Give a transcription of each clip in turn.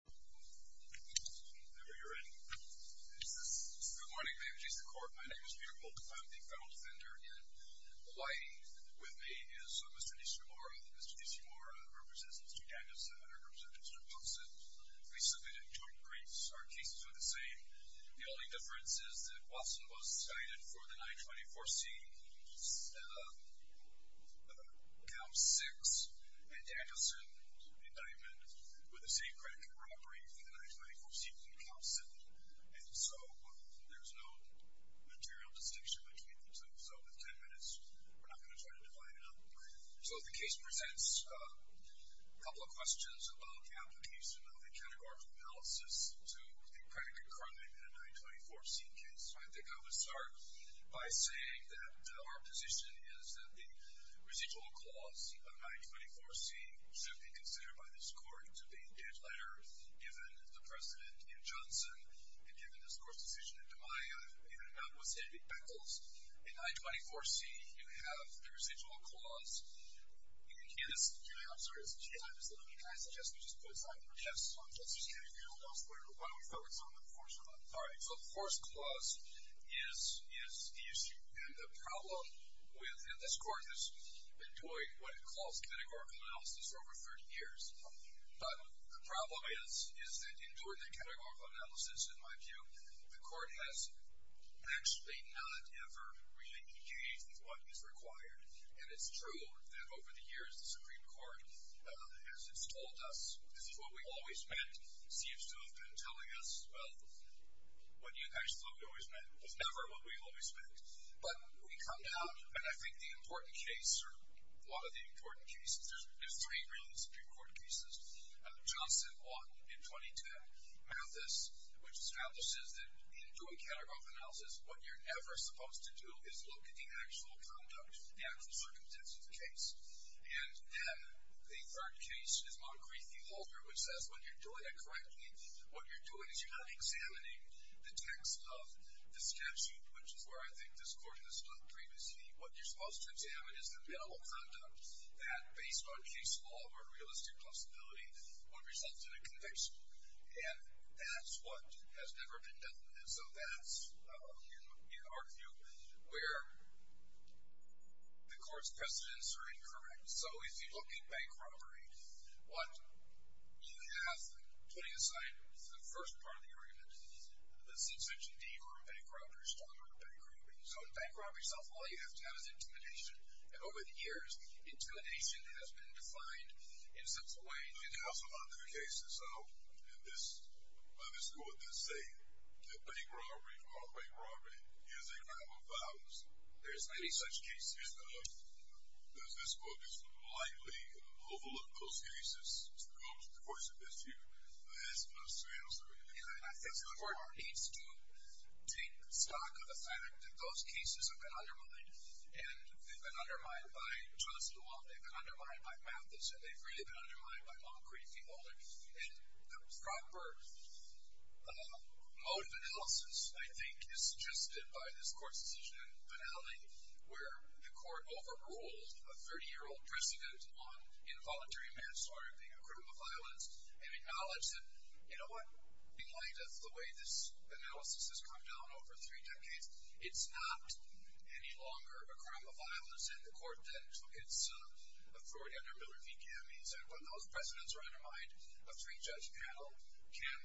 Good morning. My name is Peter Volk. I'm the federal defender in Hawaii. With me is Mr. Nishimura. Mr. Nishimura represents Mr. Dandeson and Mr. Watson. We submitted two briefs. Our cases are the same. The only difference is that Watson was cited for the 924C, count 6, and Dandeson, the diamond, with the same credit card robbery for the 924C from count 7. And so there's no material distinction between them. So with 10 minutes, we're not going to try to divide it up. So the case presents a couple of questions about the application of a categorical analysis to the credit card robbery in a 924C case. So I think I would start by saying that our position is that the residual clause of 924C should be considered by this Court to be a judge letter given the precedent in Johnson and given this Court's decision in DiMaio. Even if that was David Beckles, in 924C, you have the residual clause. You can hear this. I'm sorry, it's a few times a minute. Can I suggest we just put a time limit on Justice Kennedy? Why don't we focus on the force clause? All right. So the force clause is the issue. And the problem with – and this Court has been doing what it calls categorical analysis for over 30 years. But the problem is that in doing the categorical analysis, in my view, the Court has actually not ever really changed what is required. And it's true that over the years, the Supreme Court has told us this is what we always meant. It seems to have been telling us, well, what you actually thought we always meant was never what we always meant. But we come down, and I think the important case, or a lot of the important cases – there's three really Supreme Court cases. Johnson won in 2010. Mathis, which establishes that in doing categorical analysis, what you're ever supposed to do is look at the actual conduct, the actual circumstances of the case. And then a third case is Moncrief v. Walter, which says when you're doing it correctly, what you're doing is you're not examining the text of the statute, which is where I think this Court has looked previously. What you're supposed to examine is the mental conduct that, based on case law or realistic possibility, would result in a conviction. And that's what has never been done. And so that's, in our view, where the Court's precedents are incorrect. So if you look at bank robbery, what you have, putting aside the first part of the argument, the subsection D for a bank robber is talking about bank robbing. So in bank robbing itself, all you have to have is intimidation. And over the years, intimidation has been defined in such a way. You can also find other cases in this Court that say that bank robbery is a crime of violence. There's many such cases. Does this Court just blindly overlook those cases to come to court this year? That's my answer. I think the Court needs to take stock of the fact that those cases have been undermined, and they've been undermined by Charles DeWolf, they've been undermined by Mathis, and they've really been undermined by Montgomery Feeholder. And the proper mode of analysis, I think, is suggested by this Court's decision in finale, where the Court overruled a 30-year-old precedent on involuntary manslaughter being a crime of violence and acknowledged that, you know what? In light of the way this analysis has come down over three decades, it's not any longer a crime of violence. And the Court then took its authority under Miller v. Cammeys, and when those precedents are undermined, a three-judge panel can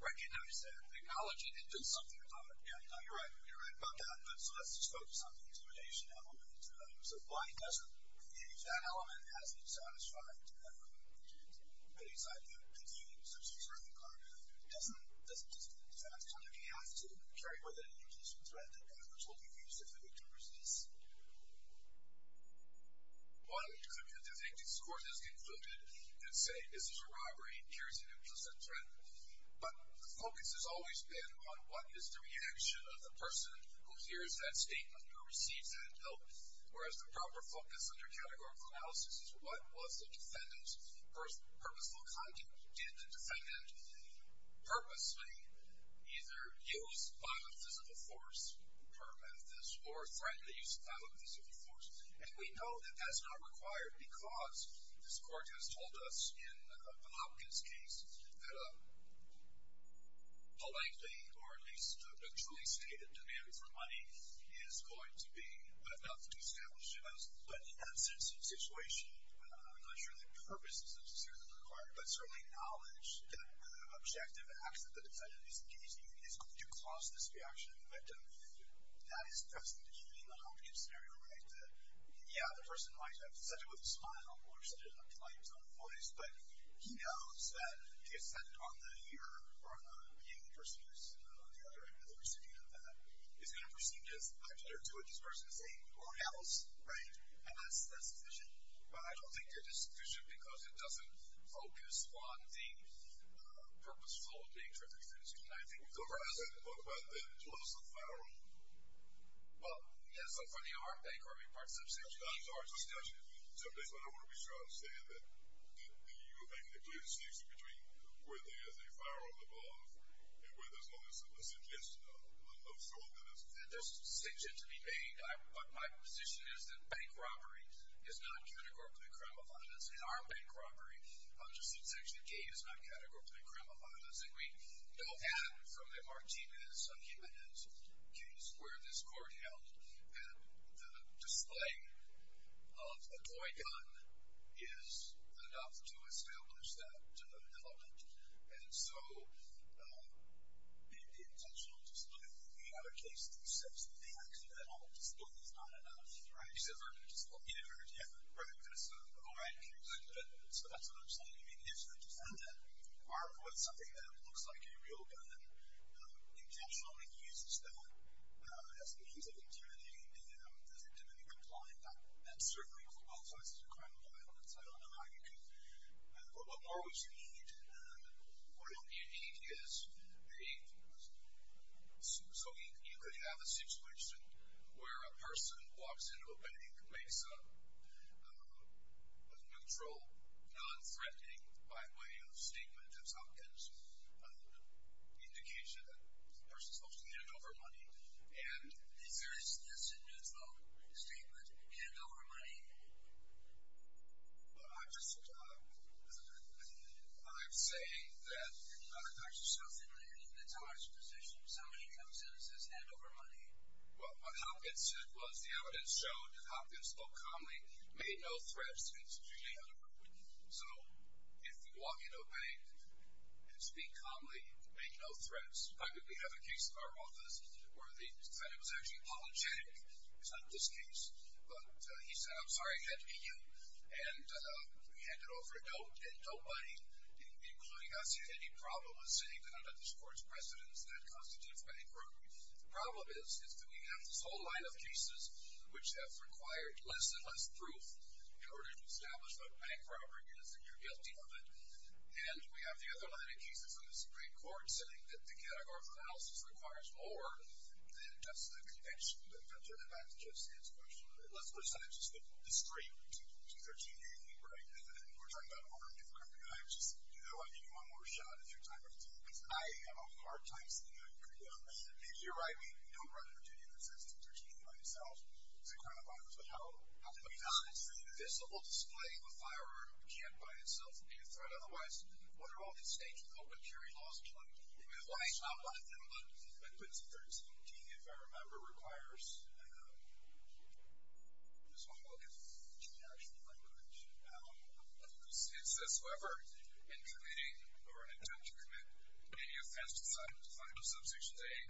recognize that, acknowledge it, and do something about it. Yeah, you're right. You're right about that. So let's just focus on the intimidation element. So why doesn't that element have been satisfied? I mean, this idea of continuing to search for certain conduct doesn't just mean the fact that you have to carry with it an implicit threat that others will be used if they were to resist. One could, I think, think this Court has concluded and say, this is a robbery and carries an implicit threat. But the focus has always been on what is the reaction of the person who hears that statement or receives that help, whereas the proper focus under categorical analysis is what was the defendant's purposeful conduct. Did the defendant purposely either use biophysical force, or threaten the use of biophysical force? And we know that that's not required because this Court has told us, in the Hopkins case, that a lengthy or at least a truly stated demand for money is going to be enough to establish defense. But in that sense of situation, I'm not sure that purpose is necessarily required, but certainly knowledge that an objective act that the defendant is engaging in is going to cause this reaction of the victim. And that is pressing to hear in the Hopkins scenario, right, that, yeah, the person might have said it with a smile or said it with a light tone of voice, but he knows that the assent on the ear or on the hearing person or on the other end of the recipient of that is going to proceed as an object or two of this person's name or house, right? And that's sufficient. But I don't think that it's sufficient because it doesn't focus on the purposeful, being treacherous in this case. And I think we've talked about that. We've talked about the close of the firearm. Well, yeah, it's not funny. It's hard to say. It's not as hard as it sounds to me. Sometimes I don't want to be sure how to say it, but do you think there could be a distinction between where there is a firearm involved and where there's not a suggestion of strong evidence? There's a decision to be made. My position is that bank robbery is not categorically a crime of violence, and our bank robbery under Section K is not categorically a crime of violence. And we know that from the Martinez case where this court held that the display of a toy gun is enough to establish that element. And so the intentional display, the other case that accepts that the accidental display is not enough. Right. You said vertical display. Yeah, vertical display. Oh, right. So that's what I'm saying. I mean, if the defendant, armed with something that looks like a real gun, intentionally uses that as a means of intimidating the defendant and complying, that certainly qualifies as a crime of violence. I don't know how you could – What more would you need? What you need is a – so you could have a situation where a person walks into a bank, makes a neutral, nonthreatening, by way of statement of substance, which is an indication that the person is supposed to hand over money. And if there is this neutral statement, hand over money, I'm just – I'm saying that there's something in the charge position. Somebody comes in and says, hand over money. Well, what Hopkins said was the evidence showed that Hopkins spoke calmly, made no threats, and was truly unruly. So if you walk into a bank and speak calmly, make no threats. We have a case in our office where the defendant was actually apologetic. It's not this case. But he said, I'm sorry, I had to be you. And he handed over a note, and nobody, including us, had any problem with saying that under this Court's precedence, that constitutes bank robbery. The problem is, is that we have this whole line of cases which have required less and less proof in order to establish that bank robbery is, and you're guilty of it. And we have the other line of cases in the Supreme Court saying that the categorical analysis requires more than just the conviction. But I'll turn it back to Jeff Sands first. Let's put it this way. It's discreet. It's a 13-year thing, right? And we're talking about over a number of times. Do I give you one more shot at your time of defense? I am a hard-time senior. And you're right. We don't run a 13-year sentence. It's a 13-year by itself. It's a crime of violence. But how do we not? It's an invisible display of a firearm. It can't by itself be a threat. Otherwise, what are all the stakes? You can't put a jury law in front of you. Why not put it in front of a gun? But putting it in front of a gun, if I remember, requires, this one will give you the true national language of a constituency. It says, whoever, in committing or in an attempt to commit any offense to find a substance they aim,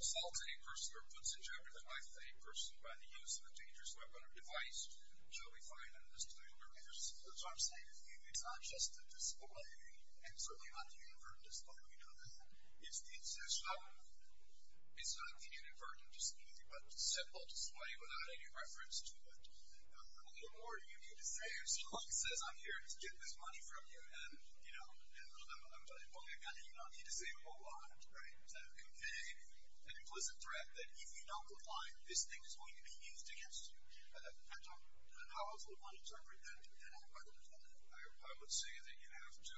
assaults a person, or puts in jeopardy of life a person by the use of a dangerous weapon or device, shall be fined under the statute of liabilities. That's what I'm saying. It's not just a display. And certainly not the inadvertent display. We know that. It's not the inadvertent display. It's a simple display without any reference to it. Or you need to say, as your lawyer says, I'm here to get this money from you. Well, you don't need to say a whole lot to convey an implicit threat that if you don't comply, this thing is going to be used against you. I don't know how else one would interpret that. I would say that you have to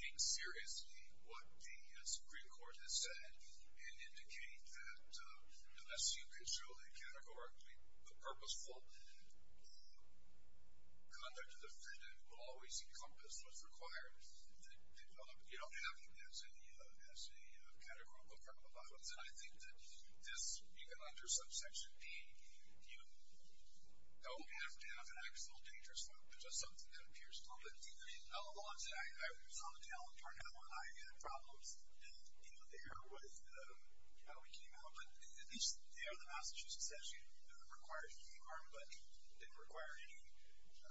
take seriously what the Supreme Court has said and indicate that unless you can show that categorically the purposeful conduct of the defendant will always encompass what's required, that you don't have it as a categorical problem. I think that this, even under subsection P, you don't have to have an actual dangerous weapon. It's just something that appears public. I was on the calendar now when I had problems. You know, there was how we came out. But at least there the Massachusetts statute didn't require any harm, but didn't require any.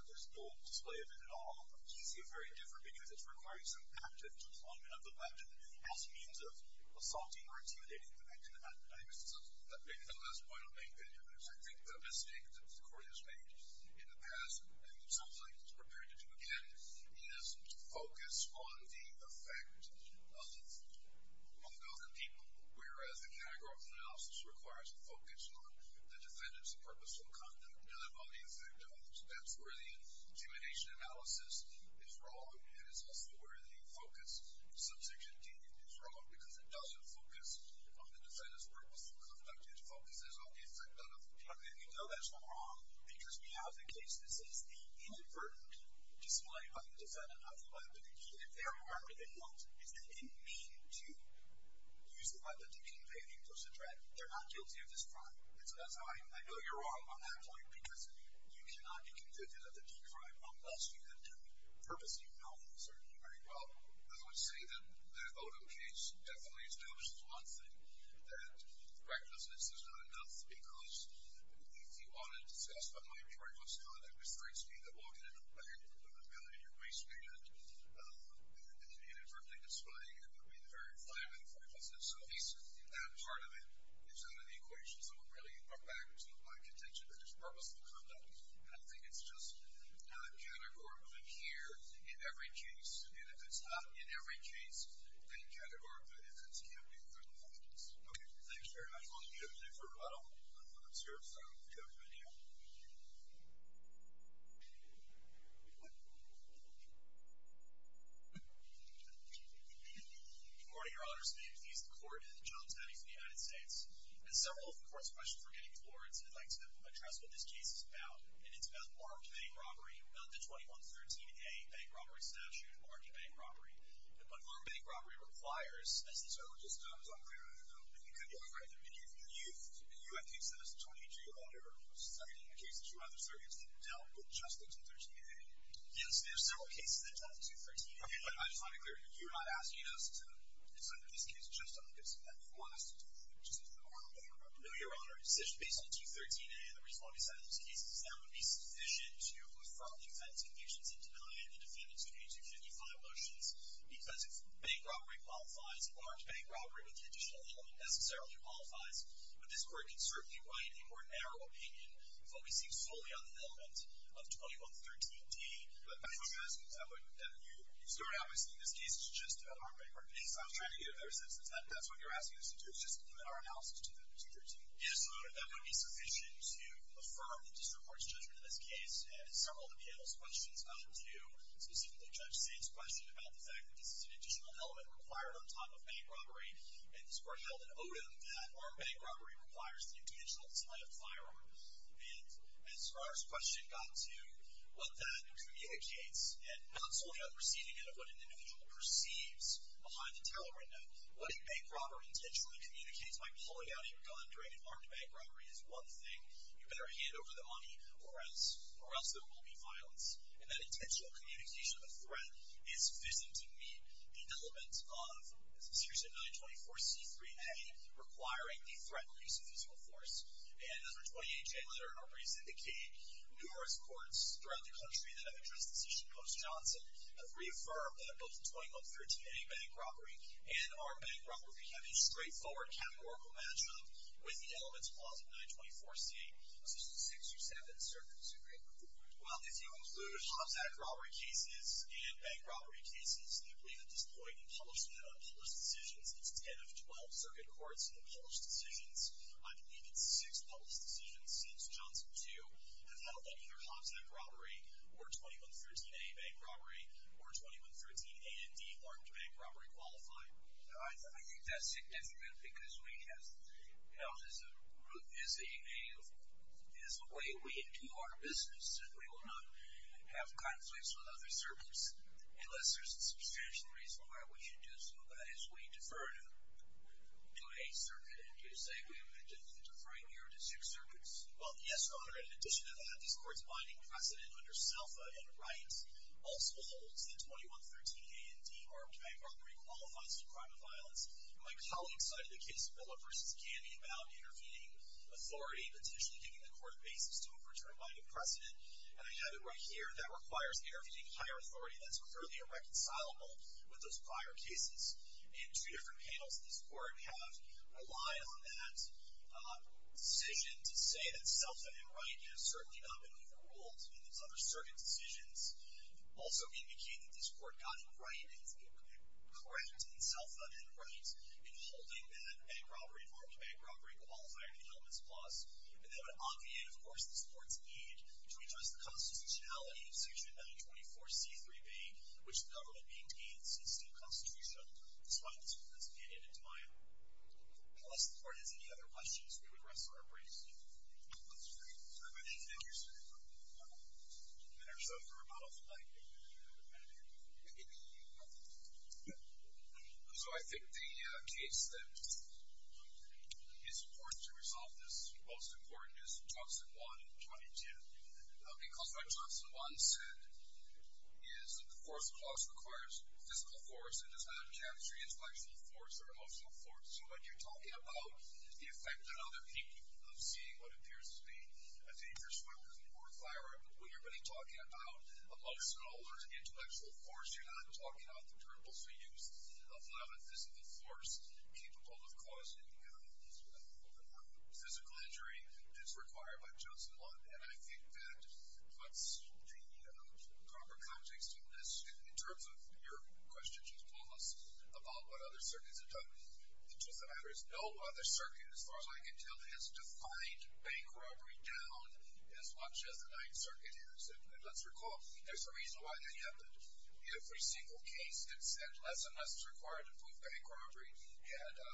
There's no display of it at all. So you see a very different view. It's requiring some active deployment of the weapon as a means of assaulting or intimidating the victim. I think that's the last point I'll make. I think the mistake that the Court has made in the past, and it sounds like it's prepared to do again, is to focus on the effect of the victim on the other people, whereas the categorical analysis requires a focus on the defendant's purposeful conduct rather than on the effect of it. That's where the intimidation analysis is wrong, and it's also where the focus subsection D is wrong, because it doesn't focus on the defendant's purposeful conduct. It focuses on the effect of it. And you know that's not wrong because we have the case. This is the inadvertent display of the defendant of the weapon. If they are harmed, they won't. If they didn't mean to use the weapon to incriminate a person, they're not guilty of this crime. I know you're wrong on that point. Because you cannot be convicted of the D crime unless you have done it purposely. You know that certainly very well. Well, I would say in that Odom case, definitely it's done. It's one thing that recklessness is not enough, because if you wanted to say, that's what my inventory was telling me, that restraints mean that we'll get in a bag with a millimeter waistband and an inadvertent display, and it would be the very climate of recklessness. So at least in that part of it, it's in the equations that would really bring back to my contention that there's purposeful conduct. And I think it's just not categorically here in every case. And if it's not in every case, then categorically, if it's here, we can't be convicted of this. Okay, thanks very much. I want to get a different model. I'm going to start with the other video. Good morning, Your Honors. My name is Nathan Corden, and I'm the General Attorney for the United States. And several of the court's questions were getting towards, and I'd like to address what this case is about. And it's about armed bank robbery, under 2113A, Bank Robbery Statute, armed bank robbery. But armed bank robbery requires, as he so just goes on and on and on, and he couldn't get away with it. And you, I think, said it was 22 under 17, a case that you and other surrogates didn't deal with, just the 213A. Yes, there are several cases that dealt with 213A. Okay, but I just want to clear, if you're not asking us to examine this case just on the basis of that, which is an order made by a familiar owner, a decision based on 213A, and the reason why we cited those cases, that would be sufficient to affirm the offense, convictions, and denial, and defendant's duty to 55 motions. Because if bank robbery qualifies, large bank robbery with traditional help necessarily qualifies. But this court can certainly write a more narrow opinion focusing solely on the element of 2113D. But if you start out by saying this case is just an armed bank robbery case, I'm trying to get a better sense. If that's what you're asking us to do, just limit our analysis to 213. Yes, so that would be sufficient to affirm the district court's judgment in this case, and several of the panel's questions got to specifically Judge Saint's question about the fact that this is an additional element required on top of bank robbery. And this court held an odom that armed bank robbery requires the intentional design of firearms. And so our question got to what that communicates, and not solely on the receiving end of what an individual perceives behind the tailoring. Now, letting bank robber intentionally communicate by pulling out a gun during an armed bank robbery is one thing. You better hand over the money, or else there will be violence. And that intentional communication of a threat is fitting to meet the elements of, as Mr. Chisholm said, 924C3A, requiring the threat release of physical force. And under 28J, whether or not we syndicate numerous courts throughout the country that have addressed this issue in Post Johnson, have reaffirmed that both the 2113A bank robbery and armed bank robbery have a straightforward categorical matchup with the elements clause of 924C, such as 6 or 7 circuits. Well, if you include Hobbs Act robbery cases and bank robbery cases, I believe that this point in publishment of published decisions is 10 of 12 circuit courts in the published decisions. I believe it's six published decisions since Johnson 2 that held that either Hobbs Act robbery or 2113A bank robbery or 2113A and D armed bank robbery qualify. I think that's significant because we have held as a way we do our business that we will not have conflicts with other circuits unless there's a substantial reason why we should do so. But as we defer to a circuit, did you say we were deferring here to six circuits? Well, yes, Your Honor. In addition to that, these courts binding precedent under SELFA and rights also holds that 2113A and D armed bank robbery qualifies for crime of violence. My colleague cited the case of Willow v. Candy about interfeding authority, potentially giving the court a basis to overturn binding precedent. And I have it right here that requires interfeding higher authority that's clearly irreconcilable with those prior cases. And two different panels in this court have relied on that decision to say that SELFA and right have certainly not been overruled in those other circuit decisions. Also indicating that this court got it right and is correct in SELFA and rights in holding that bank robbery armed bank robbery qualified for the helm of this clause. And that would obviate, of course, this court's need to address the constitutionality of section 924C3B, which the government needs to gain since the new constitution despite this court's opinion in time. Unless the court has any other questions, we would rest our briefs here. That's great. Thank you, sir. So I think the case that is important to resolve this, most important, is Toxin I in 22. Because what Toxin I said is that the force clause requires physical force and does not encapsulate intellectual force or emotional force. So when you're talking about the effect that other people of seeing what appears to be a dangerous weapon or firearm, when you're really talking about emotional or intellectual force, you're not talking about the terms we use. Allowing physical force capable of causing physical injury is required by Toxin I. And I think that puts the proper context on this in terms of your question, Judge Palmas, about what other circuits have done. The truth of the matter is no other circuit, as far as I can tell, has defined bank robbery down as much as the Ninth Circuit has. And let's recall, there's a reason why they have every single case that said less and less is required to prove bank robbery. And a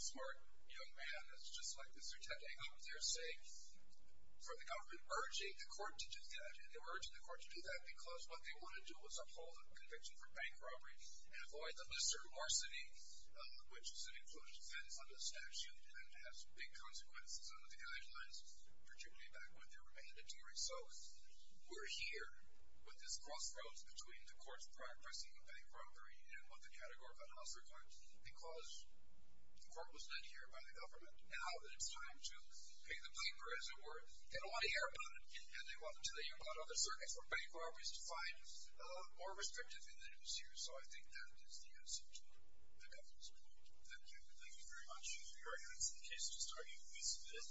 smart young man that's just like Mr. Tech hang up there saying for the government urging the court to do that. And they were urging the court to do that because what they wanted to do was uphold the conviction for bank robbery and avoid the Mr. Larceny, which is an included offense under the statute and has big consequences under the guidelines, particularly back when they were mandatory. So we're here with this crossroads between the court's prior pressing of bank robbery and what the category of unlawful record because the court was led here by the government. Now that it's time to pay the paper, as it were, they don't want to hear about it and they want to tell you about other circuits where bank robbery is defined a lot more restrictively than it is here. So I think that is the answer to the government's point. Thank you. Thank you very much. We'll be right back to the case which is tardy at least a bit.